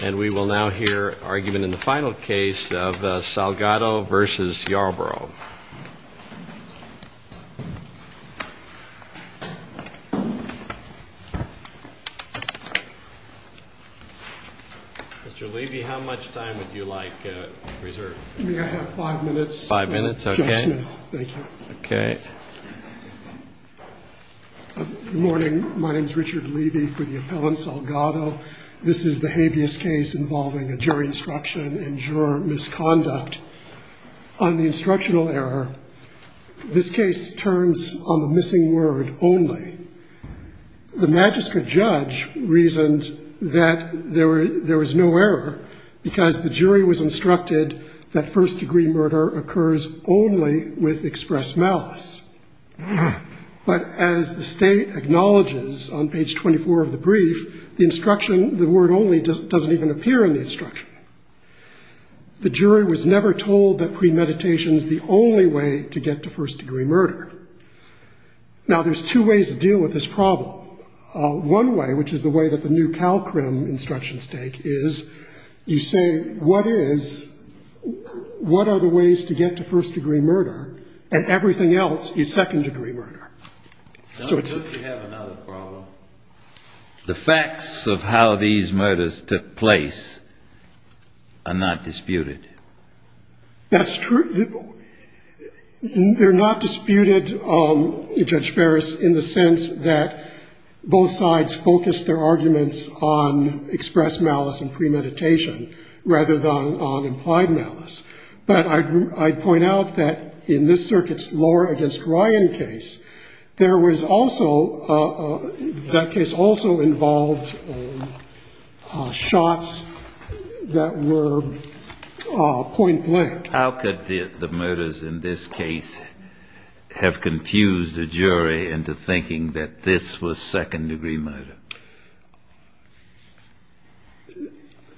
And we will now hear argument in the final case of Salgado v. Yarborough. Mr. Levy, how much time would you like reserved? May I have five minutes? Five minutes, okay. Judge Smith, thank you. Okay. Good morning. My name is Richard Levy for the appellant Salgado. This is the habeas case involving a jury instruction and juror misconduct. On the instructional error, this case turns on the missing word only. The magistrate judge reasoned that there was no error because the jury was instructed that first-degree murder occurs only with express malice. But as the State acknowledges on page 24 of the brief, the instruction, the word only, doesn't even appear in the instruction. The jury was never told that premeditation is the only way to get to first-degree murder. Now, there's two ways to deal with this problem. One way, which is the way that the new CalCRM instructions take, is you say what is, what are the ways to get to first-degree murder, and everything else is second-degree murder. So it's the... We have another problem. The facts of how these murders took place are not disputed. That's true. They're not disputed, Judge Ferris, in the sense that both sides focused their arguments on express malice and premeditation rather than on implied malice. But I'd point out that in this circuit's Lohr v. Ryan case, there was also, that case also involved shots that were point blank. How could the murders in this case have confused a jury into thinking that this was second-degree murder?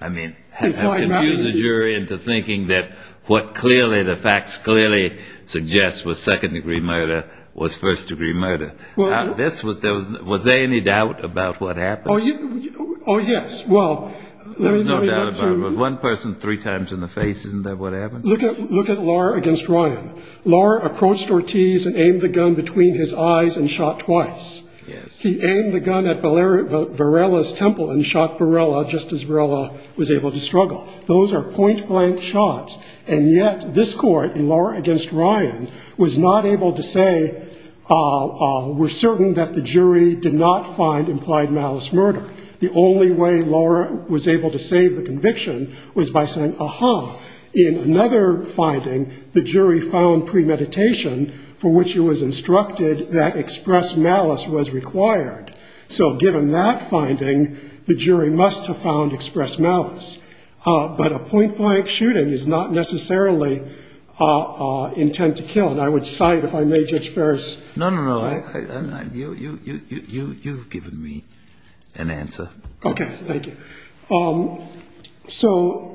I mean, have confused the jury into thinking that what clearly the facts clearly suggest was second-degree murder was first-degree murder? Was there any doubt about what happened? Oh, yes. Well, let me get to... There was no doubt about it. With one person three times in the face, isn't that what happened? Look at Lohr v. Ryan. Lohr approached Ortiz and aimed the gun between his eyes and shot twice. Yes. He aimed the gun at Varela's temple and shot Varela just as Varela was able to struggle. Those are point blank shots. And yet this court, in Lohr v. Ryan, was not able to say, we're certain that the jury did not find implied malice murder. The only way Lohr was able to save the conviction was by saying, aha. In another finding, the jury found premeditation for which it was instructed that expressed malice was required. So given that finding, the jury must have found expressed malice. But a point blank shooting is not necessarily intent to kill. And I would cite, if I may, Judge Ferris. No, no, no. Okay. Thank you. So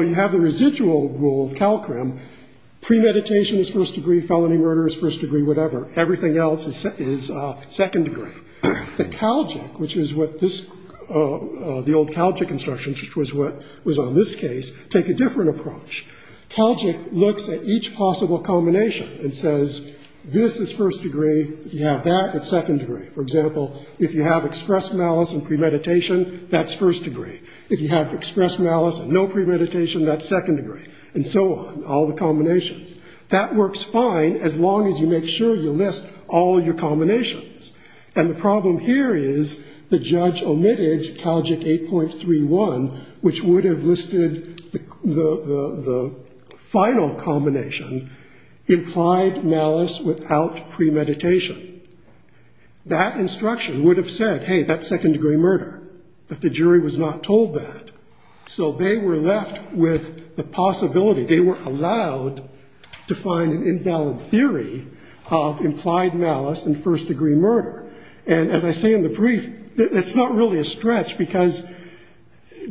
you have the residual rule of CALCRIM. Premeditation is first degree. Felony murder is first degree. Whatever. Everything else is second degree. The CALGIC, which is what this, the old CALGIC instructions, which was on this case, take a different approach. CALGIC looks at each possible culmination and says, this is first degree. You have that. It's second degree. For example, if you have expressed malice and premeditation, that's first degree. If you have expressed malice and no premeditation, that's second degree. And so on. All the combinations. That works fine as long as you make sure you list all your culminations. And the problem here is the judge omitted CALGIC 8.31, which would have listed the final culmination, implied malice without premeditation. That instruction would have said, hey, that's second degree murder. But the jury was not told that. So they were left with the possibility, they were allowed to find an invalid theory of implied malice and first degree murder. And as I say in the brief, it's not really a stretch because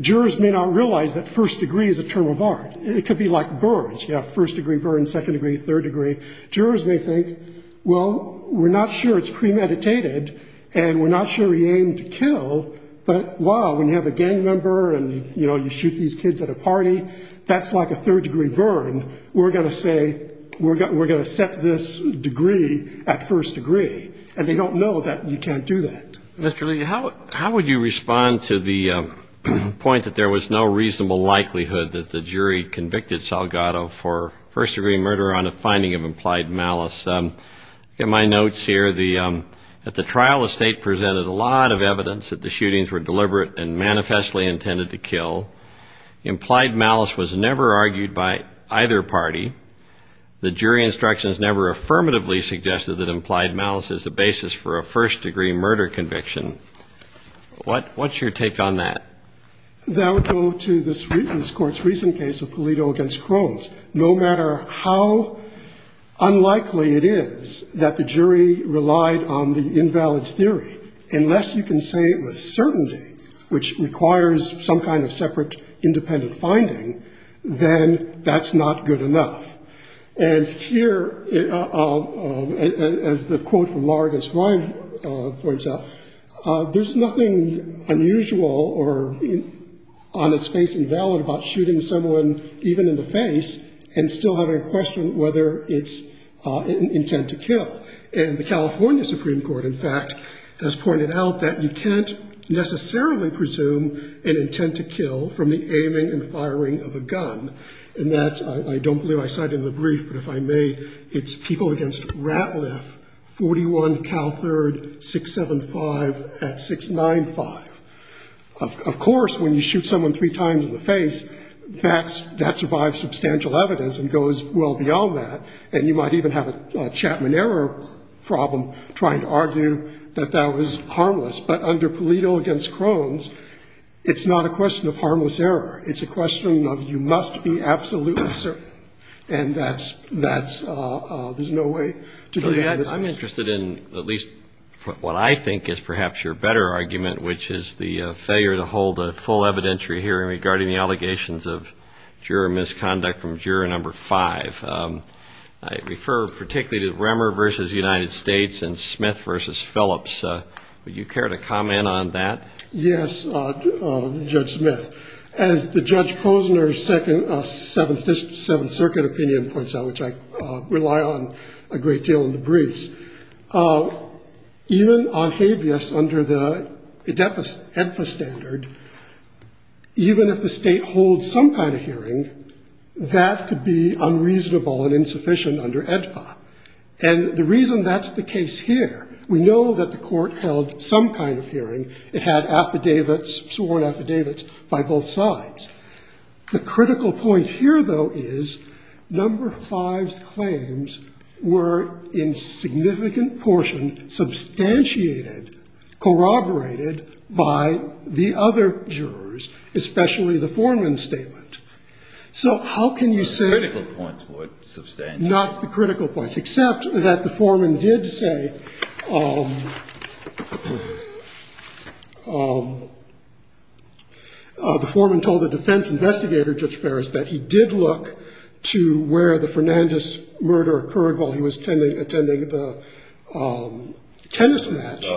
jurors may not realize that first degree is a term of art. It could be like burns. You have first degree burn, second degree, third degree. Jurors may think, well, we're not sure it's premeditated and we're not sure he aimed to kill. But, wow, when you have a gang member and, you know, you shoot these kids at a party, that's like a third degree burn. We're going to say, we're going to set this degree at first degree. And they don't know that you can't do that. Mr. Lee, how would you respond to the point that there was no reasonable likelihood that the jury convicted Salgado for first degree murder on a finding of implied malice? In my notes here, at the trial, the State presented a lot of evidence that the shootings were deliberate and manifestly intended to kill. Implied malice was never argued by either party. The jury instructions never affirmatively suggested that implied malice is the basis for a first degree murder conviction. What's your take on that? That would go to this Court's recent case of Pulido v. Crohn's. No matter how unlikely it is that the jury relied on the invalid theory, unless you can say with certainty, which requires some kind of separate independent finding, then that's not good enough. And here, as the quote from Law Against Crime points out, there's nothing unusual or on its face invalid about shooting someone even in the face and still having a question whether it's intent to kill. And the California Supreme Court, in fact, has pointed out that you can't necessarily presume an intent to kill from the aiming and firing of a gun. And that's – I don't believe I cited in the brief, but if I may, it's people against Ratliff, 41 Cal 3rd, 675 at 695. Of course, when you shoot someone three times in the face, that's – that survives substantial evidence and goes well beyond that. And you might even have a Chapman error problem trying to argue that that was harmless. But under Pulido v. Crohn's, it's not a question of harmless error. It's a question of you must be absolutely certain. And that's – that's – there's no way to do that in this case. I'm interested in at least what I think is perhaps your better argument, which is the failure to hold a full evidentiary hearing regarding the allegations of juror misconduct from juror number five. I refer particularly to Remmer v. United States and Smith v. Phillips. Would you care to comment on that? Yes, Judge Smith. As the Judge Posner's Second – Seventh Circuit opinion points out, which I rely on a great deal in the briefs, even on habeas under the AEDPA standard, even if the State holds some kind of hearing, that could be unreasonable and insufficient under AEDPA. And the reason that's the case here, we know that the Court held some kind of hearing. It had affidavits, sworn affidavits, by both sides. The critical point here, though, is number five's claims were in significant portion substantiated, corroborated by the other jurors, especially the foreman's statement. So how can you say – The critical points were substantiated. Not the critical points, except that the foreman did say – the foreman told the defense investigator, Judge Ferris, that he did look to where the Fernandez murder occurred while he was attending the tennis match.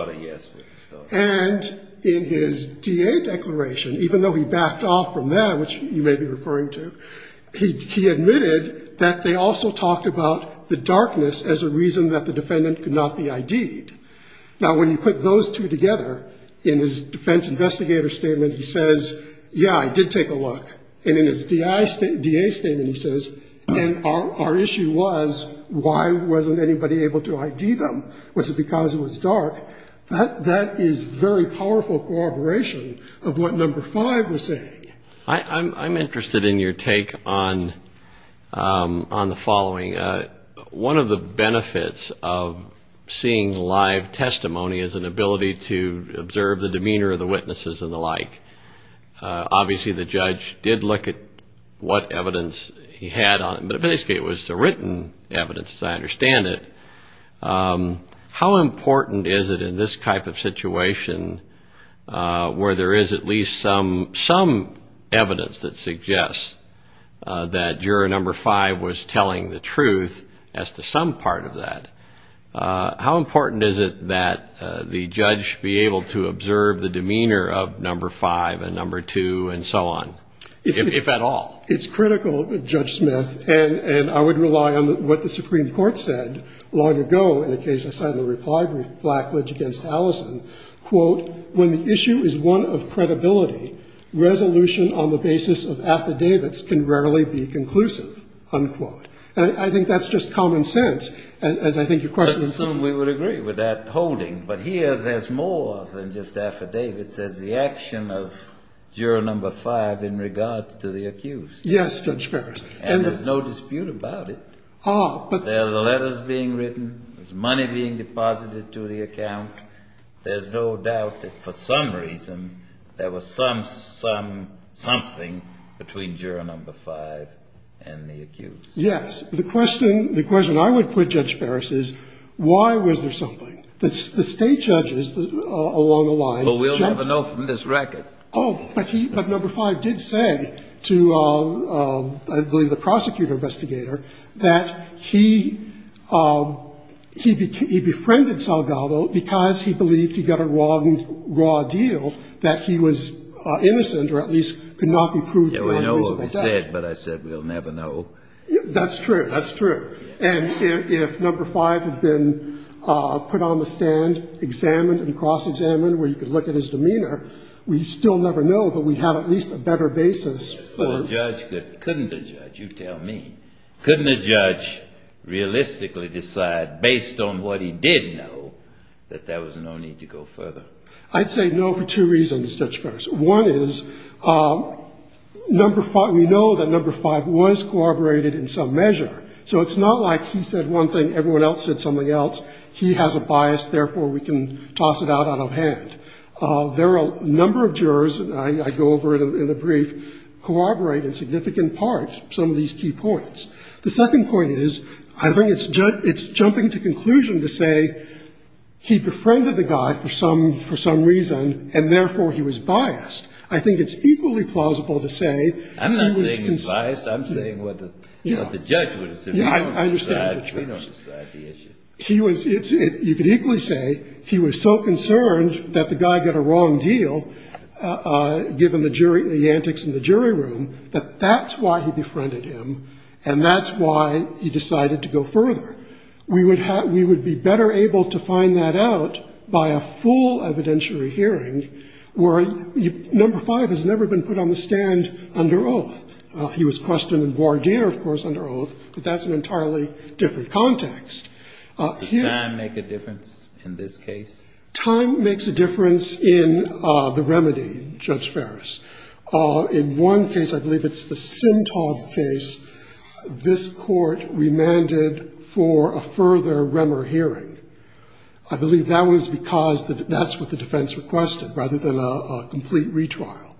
And in his DA declaration, even though he backed off from that, which you may be referring to, he admitted that they also talked about the darkness as a reason that the defendant could not be ID'd. Now, when you put those two together, in his defense investigator statement, he says, yeah, I did take a look. And in his DA statement, he says, and our issue was, why wasn't anybody able to ID them? Was it because it was dark? That is very powerful corroboration of what number five was saying. I'm interested in your take on the following. One of the benefits of seeing live testimony is an ability to observe the demeanor of the witnesses and the like. Obviously, the judge did look at what evidence he had on it, but basically it was the written evidence, as I understand it. How important is it in this type of situation where there is at least some evidence that suggests that juror number five was telling the truth as to some part of that? How important is it that the judge be able to observe the demeanor of number five and number two and so on, if at all? It's critical, Judge Smith, and I would rely on what the Supreme Court said long ago in a case I cited in the reply brief, Blackledge v. Allison. Quote, when the issue is one of credibility, resolution on the basis of affidavits can rarely be conclusive, unquote. And I think that's just common sense, as I think your question is. I would assume we would agree with that holding, but here there's more than just affidavits. There's the action of juror number five in regards to the accused. Yes, Judge Ferris. And there's no dispute about it. There are the letters being written. There's money being deposited to the account. There's no doubt that for some reason there was some, some, something between juror number five and the accused. Yes. The question, the question I would put, Judge Ferris, is why was there something? The State judges along the line generally — Well, we'll never know from this record. Oh. But he — but number five did say to, I believe, the prosecutor-investigator that he, he befriended Salgado because he believed he got a wrong, raw deal, that he was innocent or at least could not be proved wrong because of that. Yeah, we know what he said, but I said we'll never know. That's true. That's true. And if number five had been put on the stand, examined and cross-examined where you could look at his demeanor, we'd still never know, but we'd have at least a better basis for — Couldn't a judge — you tell me. Couldn't a judge realistically decide based on what he did know that there was no need to go further? I'd say no for two reasons, Judge Ferris. One is number five — we know that number five was corroborated in some measure. So it's not like he said one thing, everyone else said something else. He has a bias, therefore we can toss it out of hand. There are a number of jurors, and I go over it in the brief, corroborate in significant part some of these key points. The second point is I think it's jumping to conclusion to say he befriended the guy for some reason and therefore he was biased. I think it's equally plausible to say — I'm not saying he's biased. I'm saying what the judge would have said. Yeah, I understand what you're trying to say. We don't decide the issue. He was — you could equally say he was so concerned that the guy got a wrong deal, given the jury — the antics in the jury room, that that's why he befriended him, and that's why he decided to go further. We would have — we would be better able to find that out by a full evidentiary hearing where number five has never been put on the stand under oath. He was questioned in voir dire, of course, under oath, but that's an entirely different context. Here — Does time make a difference in this case? Time makes a difference in the remedy, Judge Ferris. In one case, I believe it's the Simtob case, this court remanded for a further Remmer hearing. I believe that was because that's what the defense requested, rather than a complete retrial.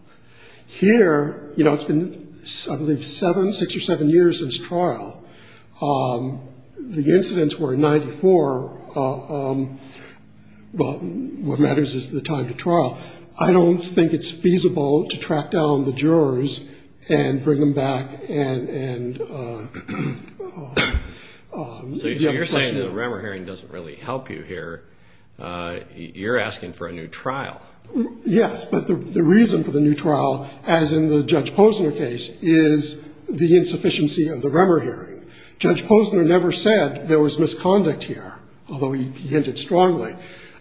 Here, you know, it's been, I believe, seven, six or seven years since trial. The incidents were in 94. What matters is the time to trial. I don't think it's feasible to track down the jurors and bring them back and — So you're saying the Remmer hearing doesn't really help you here. You're asking for a new trial. Yes, but the reason for the new trial, as in the Judge Posner case, is the insufficiency of the Remmer hearing. Judge Posner never said there was misconduct here, although he hinted strongly.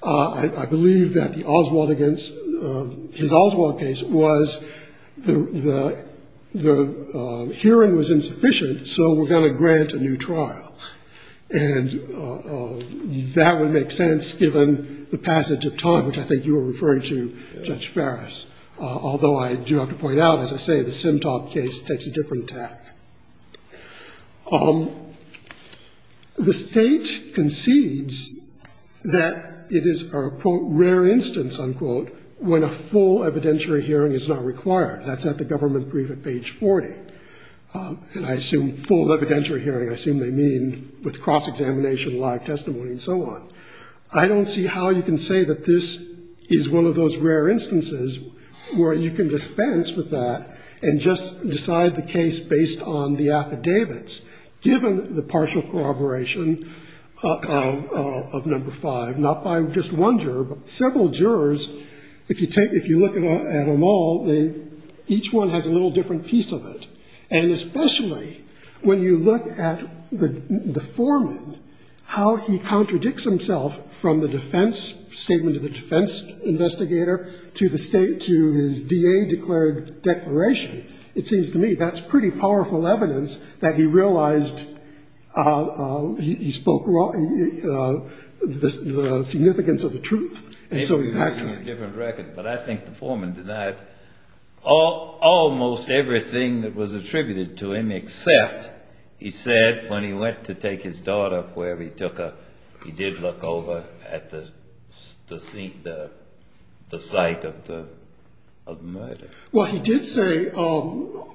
I believe that the Oswald against — his Oswald case was the hearing was insufficient, so we're going to grant a new trial. And that would make sense, given the passage of time, which I think you were referring to, Judge Ferris, although I do have to point out, as I say, the Simtob case takes a different tack. The State concedes that it is a, quote, rare instance, unquote, when a full evidentiary hearing is not required. That's at the government brief at page 40. And I assume full evidentiary hearing, I assume they mean with cross-examination, live testimony and so on. I don't see how you can say that this is one of those rare instances where you can dispense with that and just decide the case based on the affidavits, given the partial corroboration of number five, not by just one juror, but several jurors, if you look at them all, each one has a little different piece of it. And especially when you look at the foreman, how he contradicts himself from the D.A. declared declaration, it seems to me that's pretty powerful evidence that he realized he spoke the significance of the truth. And so he had to have a different record. But I think the foreman denied almost everything that was attributed to him, except he said when he went to take his daughter, wherever he took her, he did look over at the site of the murder. Well, he did say to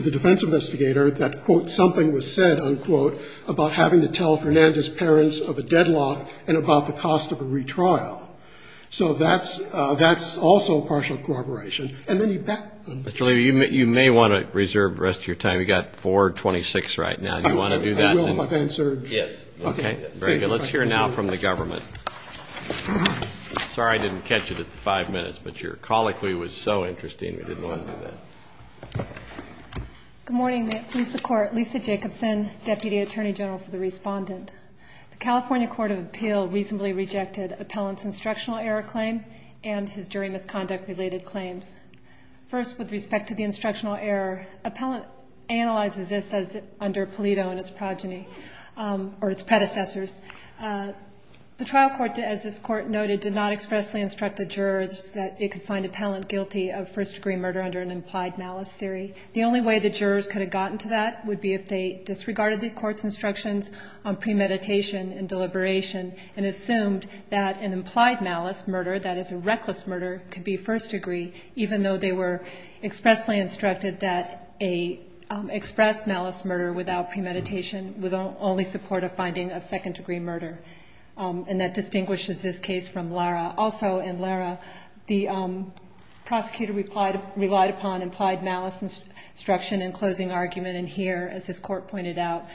the defense investigator that, quote, something was said, unquote, about having to tell Fernandez's parents of a deadlock and about the cost of a retrial. So that's also partial corroboration. And then he backed them. Mr. Levy, you may want to reserve the rest of your time. We've got 4.26 right now. Do you want to do that? I will if I've answered. Yes. Okay. Very good. Let's hear now from the government. Sorry I didn't catch it at the 5 minutes, but your colic we was so interesting, we didn't want to do that. Good morning. May it please the Court. Lisa Jacobson, Deputy Attorney General for the Respondent. The California Court of Appeal reasonably rejected Appellant's instructional error claim and his jury misconduct-related claims. First, with respect to the instructional error, Appellant analyzes this as under predecessors. The trial court, as this Court noted, did not expressly instruct the jurors that it could find Appellant guilty of first-degree murder under an implied malice theory. The only way the jurors could have gotten to that would be if they disregarded the Court's instructions on premeditation and deliberation and assumed that an implied malice murder, that is a reckless murder, could be first degree, even though they were expressly instructed that an expressed malice murder without premeditation would only support a finding of second-degree murder. And that distinguishes this case from Lara. Also in Lara, the prosecutor relied upon implied malice instruction in closing argument, and here, as this Court pointed out,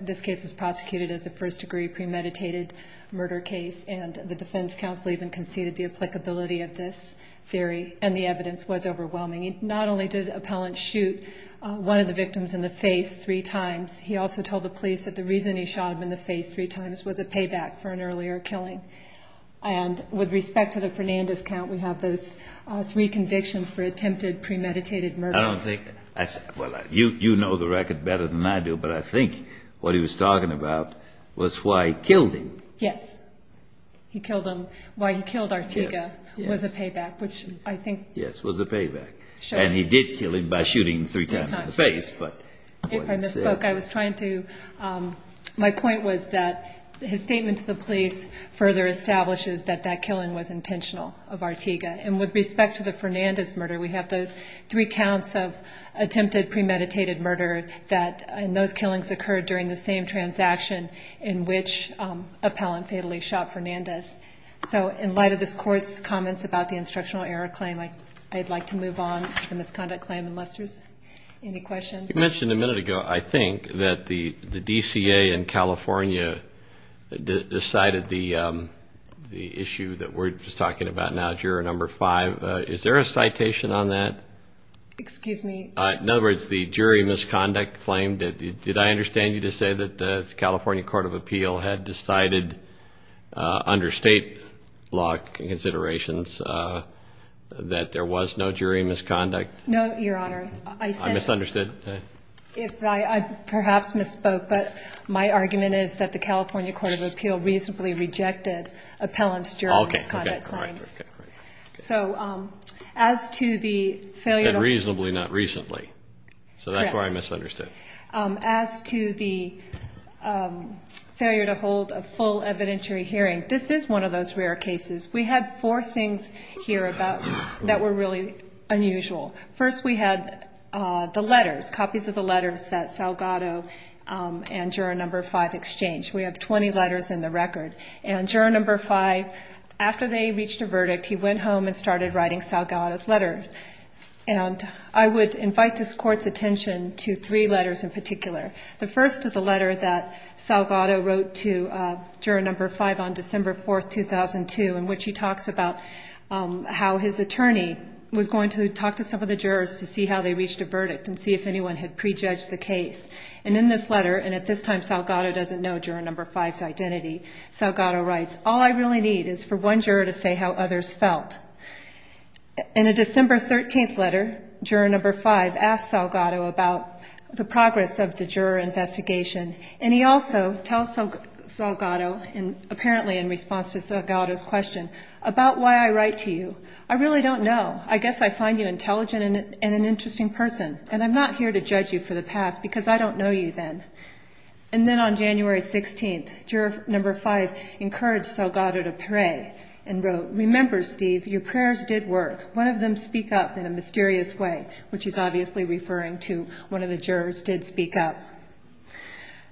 this case was prosecuted as a first-degree premeditated murder case, and the defense counsel even conceded the applicability of this theory, and the evidence was overwhelming. Not only did Appellant shoot one of the victims in the face three times, he also told the police that the reason he shot him in the face three times was a payback for an earlier killing. And with respect to the Fernandez count, we have those three convictions for attempted premeditated murder. I don't think – well, you know the record better than I do, but I think what he was talking about was why he killed him. Yes. He killed him – why he killed Artiga was a payback, which I think – Yes, was a payback. Sure. And he did kill him by shooting him three times in the face, but – I was trying to – my point was that his statement to the police further establishes that that killing was intentional of Artiga. And with respect to the Fernandez murder, we have those three counts of attempted premeditated murder that – and those killings occurred during the same transaction in which Appellant fatally shot Fernandez. So in light of this Court's comments about the instructional error claim, I'd like to move on to the misconduct claim, unless there's any questions. You mentioned a minute ago, I think, that the DCA in California decided the issue that we're just talking about now, juror number five. Is there a citation on that? Excuse me? In other words, the jury misconduct claim. Did I understand you to say that the California Court of Appeal had decided under state law considerations that there was no jury misconduct? No, Your Honor. I said – I misunderstood. I perhaps misspoke, but my argument is that the California Court of Appeal reasonably rejected Appellant's jury misconduct claims. Okay. So as to the failure – Said reasonably, not recently. Correct. That's where I misunderstood. As to the failure to hold a full evidentiary hearing, this is one of those rare cases. We had four things here that were really unusual. First, we had the letters, copies of the letters that Salgado and juror number five exchanged. We have 20 letters in the record. And juror number five, after they reached a verdict, he went home and started writing Salgado's letters. And I would invite this Court's attention to three letters in particular. The first is a letter that Salgado wrote to juror number five on December 4, 2002, in which he talks about how his attorney was going to talk to some of the jurors to see how they reached a verdict and see if anyone had prejudged the case. And in this letter, and at this time Salgado doesn't know juror number five's identity, Salgado writes, All I really need is for one juror to say how others felt. In a December 13 letter, juror number five asks Salgado about the progress of the juror investigation, and he also tells Salgado, apparently in response to Salgado's question, about why I write to you. I really don't know. I guess I find you intelligent and an interesting person, and I'm not here to judge you for the past because I don't know you then. And then on January 16, juror number five encouraged Salgado to pray and wrote, Remember, Steve, your prayers did work. One of them speak up in a mysterious way, which is obviously referring to one of the jurors did speak up.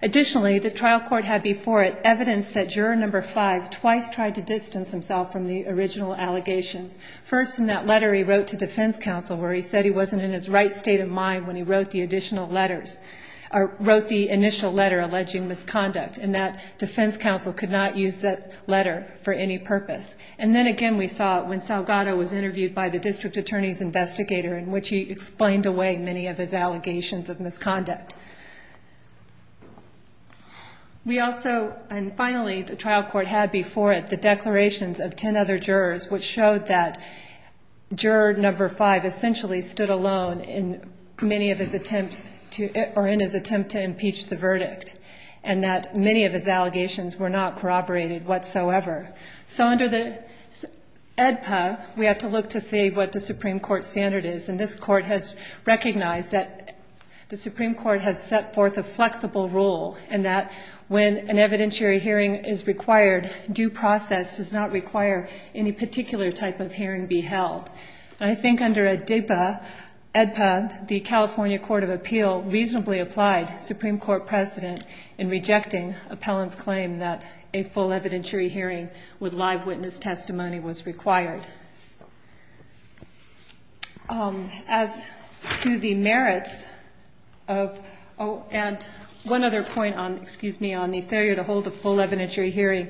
Additionally, the trial court had before it evidence that juror number five twice tried to distance himself from the original allegations. First, in that letter he wrote to defense counsel where he said he wasn't in his right state of mind when he wrote the initial letter alleging misconduct, and that defense counsel could not use that letter for any purpose. And then again we saw it when Salgado was interviewed by the district attorney's investigator in which he explained away many of his allegations of misconduct. And finally, the trial court had before it the declarations of ten other jurors, which showed that juror number five essentially stood alone in many of his attempts to or in his attempt to impeach the verdict, and that many of his allegations were not corroborated whatsoever. So under the AEDPA, we have to look to see what the Supreme Court standard is, and this court has recognized that the Supreme Court has set forth a flexible rule and that when an evidentiary hearing is required, due process does not require any particular type of hearing be held. And I think under AEDPA, the California Court of Appeal reasonably applied Supreme Court precedent in rejecting appellant's claim that a full evidentiary hearing with live witness testimony was required. As to the merits of, oh, and one other point on, excuse me, on the failure to hold a full evidentiary hearing,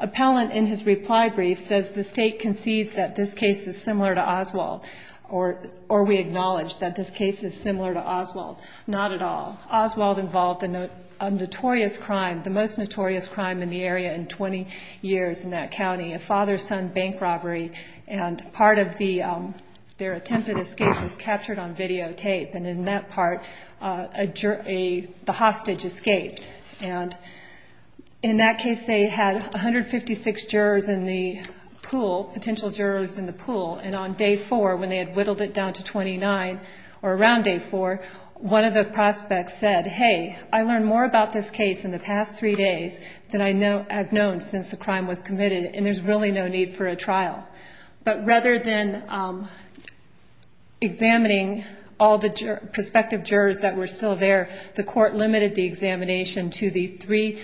appellant in his reply brief says the state concedes that this case is similar to Oswald, or we acknowledge that this case is similar to Oswald. Not at all. Oswald involved a notorious crime, the most notorious crime in the area in 20 years in that county, a father-son bank robbery, and part of their attempted escape was captured on videotape, and in that part the hostage escaped. And in that case they had 156 jurors in the pool, potential jurors in the pool, and on day four when they had whittled it down to 29 or around day four, one of the prospects said, hey, I learned more about this case in the past three days than I have known since the crime was committed, and there's really no need for a trial. But rather than examining all the prospective jurors that were still there, the court limited the examination to the three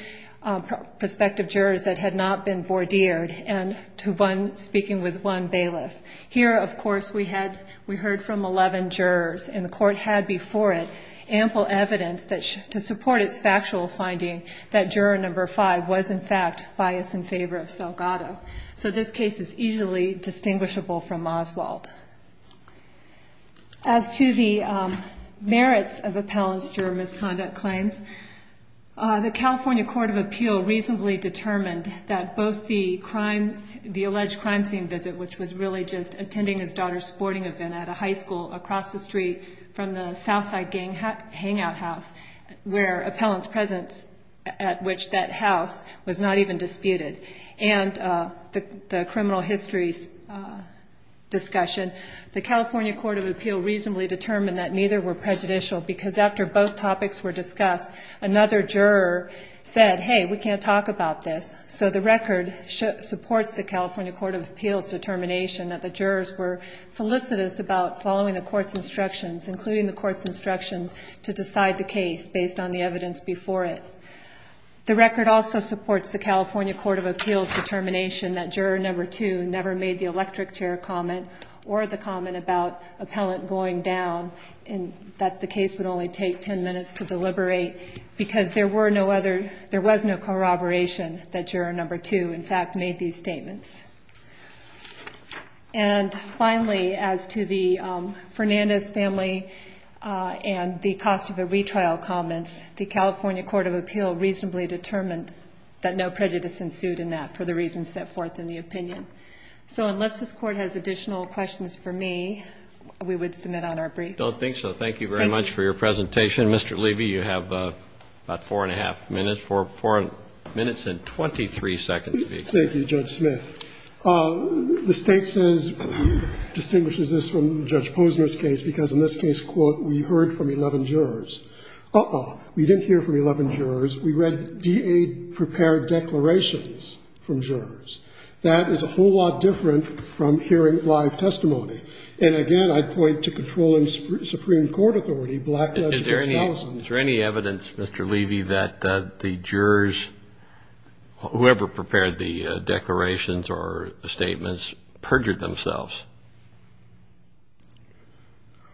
prospective jurors that had not been vordeered and to one speaking with one bailiff. Here, of course, we heard from 11 jurors, and the court had before it ample evidence to support its factual finding that juror number five was, in fact, biased in favor of Salgado. So this case is easily distinguishable from Oswald. As to the merits of Appellant's juror misconduct claims, the California Court of Appeal reasonably determined that both the alleged crime scene visit, which was really just attending his daughter's sporting event at a high school across the street from the Southside Gang Hangout House, where Appellant's presence at which that house was not even disputed, and the criminal histories discussion, the California Court of Appeal reasonably determined that neither were prejudicial because after both topics were discussed, another juror said, hey, we can't talk about this. So the record supports the California Court of Appeal's determination that the jurors were solicitous about following the court's instructions, including the court's instructions to decide the case based on the evidence before it. The record also supports the California Court of Appeal's determination that juror number two never made the electric chair comment or the comment about Appellant going down and that the case would only take 10 minutes to deliberate because there were no other, there was no corroboration that juror number two, in fact, made these statements. And finally, as to the Fernandez family and the cost of a retrial comments, the California Court of Appeal reasonably determined that no prejudice ensued in that for the reasons set forth in the opinion. So unless this Court has additional questions for me, we would submit on our brief. I don't think so. Thank you very much for your presentation. Mr. Levy, you have about four and a half minutes, four minutes and 23 seconds to be explained. Thank you, Judge Smith. The State says, distinguishes this from Judge Posner's case because in this case, quote, we heard from 11 jurors. Uh-oh, we didn't hear from 11 jurors. We read DA-prepared declarations from jurors. That is a whole lot different from hearing live testimony. And, again, I'd point to controlling Supreme Court authority, black-legged espousal. Is there any evidence, Mr. Levy, that the jurors, whoever prepared the declarations or statements, perjured themselves?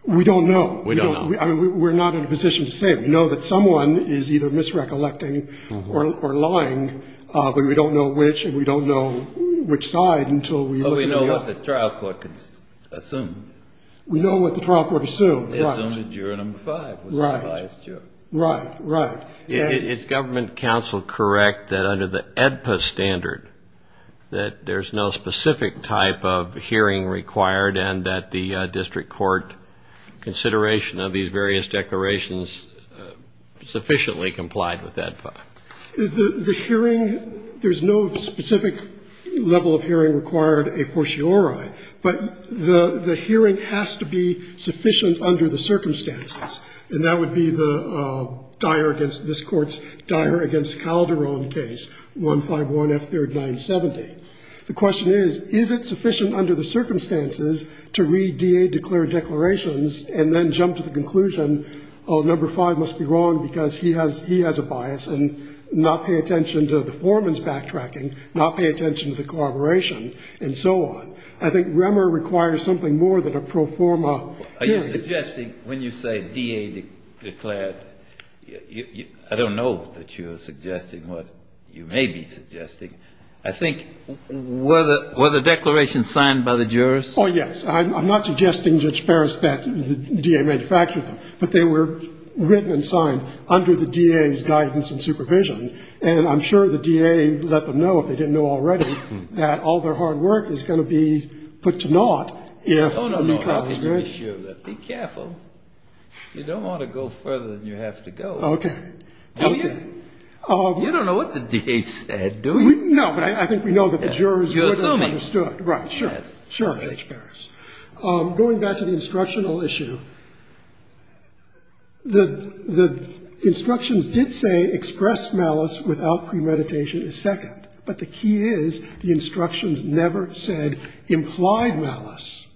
We don't know. We don't know. I mean, we're not in a position to say. We know that someone is either misrecollecting or lying, but we don't know which, and we don't know which side until we look at the other. We know what the trial court assumed. We know what the trial court assumed, right. They assumed that juror number five was the highest juror. Right, right. Is government counsel correct that under the AEDPA standard that there's no specific type of hearing required and that the district court consideration of these various declarations sufficiently complied with AEDPA? The hearing, there's no specific level of hearing required a fortiori, but the hearing has to be sufficient under the circumstances, and that would be the dire against this Court's dire against Calderon case, 151F3970. The question is, is it sufficient under the circumstances to read DA declared declarations and then jump to the conclusion, oh, number five must be wrong because he has a bias, and not pay attention to the foreman's backtracking, not pay attention to the corroboration, and so on. I think Remer requires something more than a pro forma hearing. Are you suggesting when you say DA declared, I don't know that you are suggesting what you may be suggesting. I think were the declarations signed by the jurors? Oh, yes. I'm not suggesting, Judge Ferris, that the DA manufactured them, but they were written and signed under the DA's guidance and supervision, and I'm sure the DA let them know, if they didn't know already, that all their hard work is going to be put to naught if a new clause is made. Be careful. You don't want to go further than you have to go. Okay. Okay. You don't know what the DA said, do you? No, but I think we know that the jurors would have understood. You're assuming. Right, sure. Sure, Judge Ferris. Going back to the instructional issue, the instructions did say express malice without premeditation is second, but the key is the instructions never said implied malice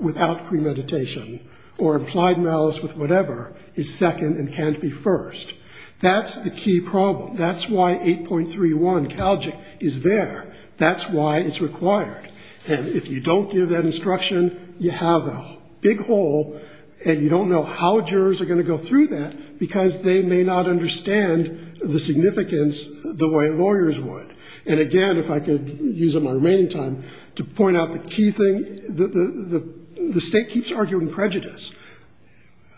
without premeditation or implied malice with whatever is second and can't be first. That's the key problem. That's why 8.31 Calgic is there. That's why it's required. And if you don't give that instruction, you have a big hole, and you don't know how jurors are going to go through that because they may not understand the significance the way lawyers would. And, again, if I could use up my remaining time to point out the key thing, the State keeps arguing prejudice.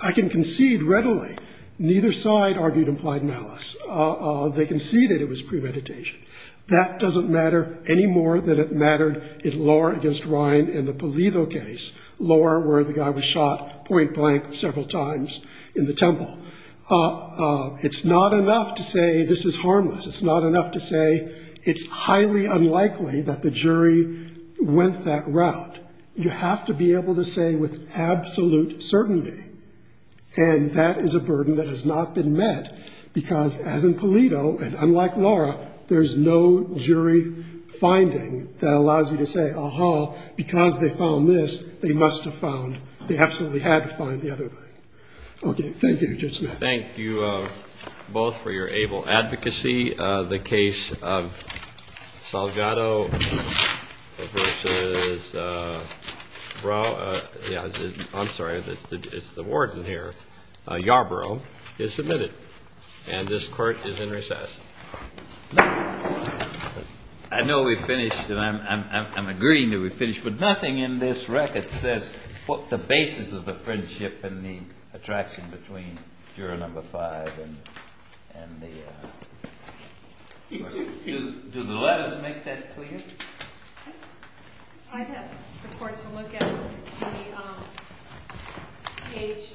I can concede readily neither side argued implied malice. They conceded it was premeditation. That doesn't matter any more than it mattered in Laura against Ryan in the Pulido case. Laura, where the guy was shot point blank several times in the temple. It's not enough to say this is harmless. It's not enough to say it's highly unlikely that the jury went that route. You have to be able to say with absolute certainty, and that is a burden that has not been met because, as in Pulido and unlike Laura, there's no jury finding that allows you to say, aha, because they found this, they must have found, they absolutely had to find the other thing. Okay. Thank you, Judge Smith. Thank you both for your able advocacy. The case of Salgado v. Brough. I'm sorry. It's the warden here. Yarborough is submitted. And this Court is in recess. I know we finished, and I'm agreeing that we finished, but nothing in this record says what the basis of the friendship and the attraction between juror number five and the others. Do the letters make that clear? I'd ask the Court to look at page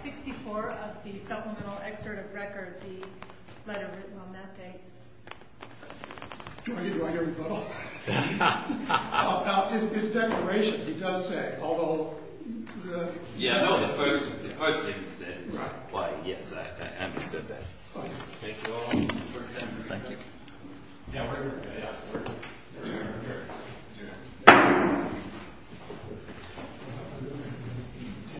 64 of the supplemental excerpt of record, the letter written on that day. Do I hear you? It's declaration. It does say, although the letter doesn't. Yes, I understood that. Thank you all. Thank you.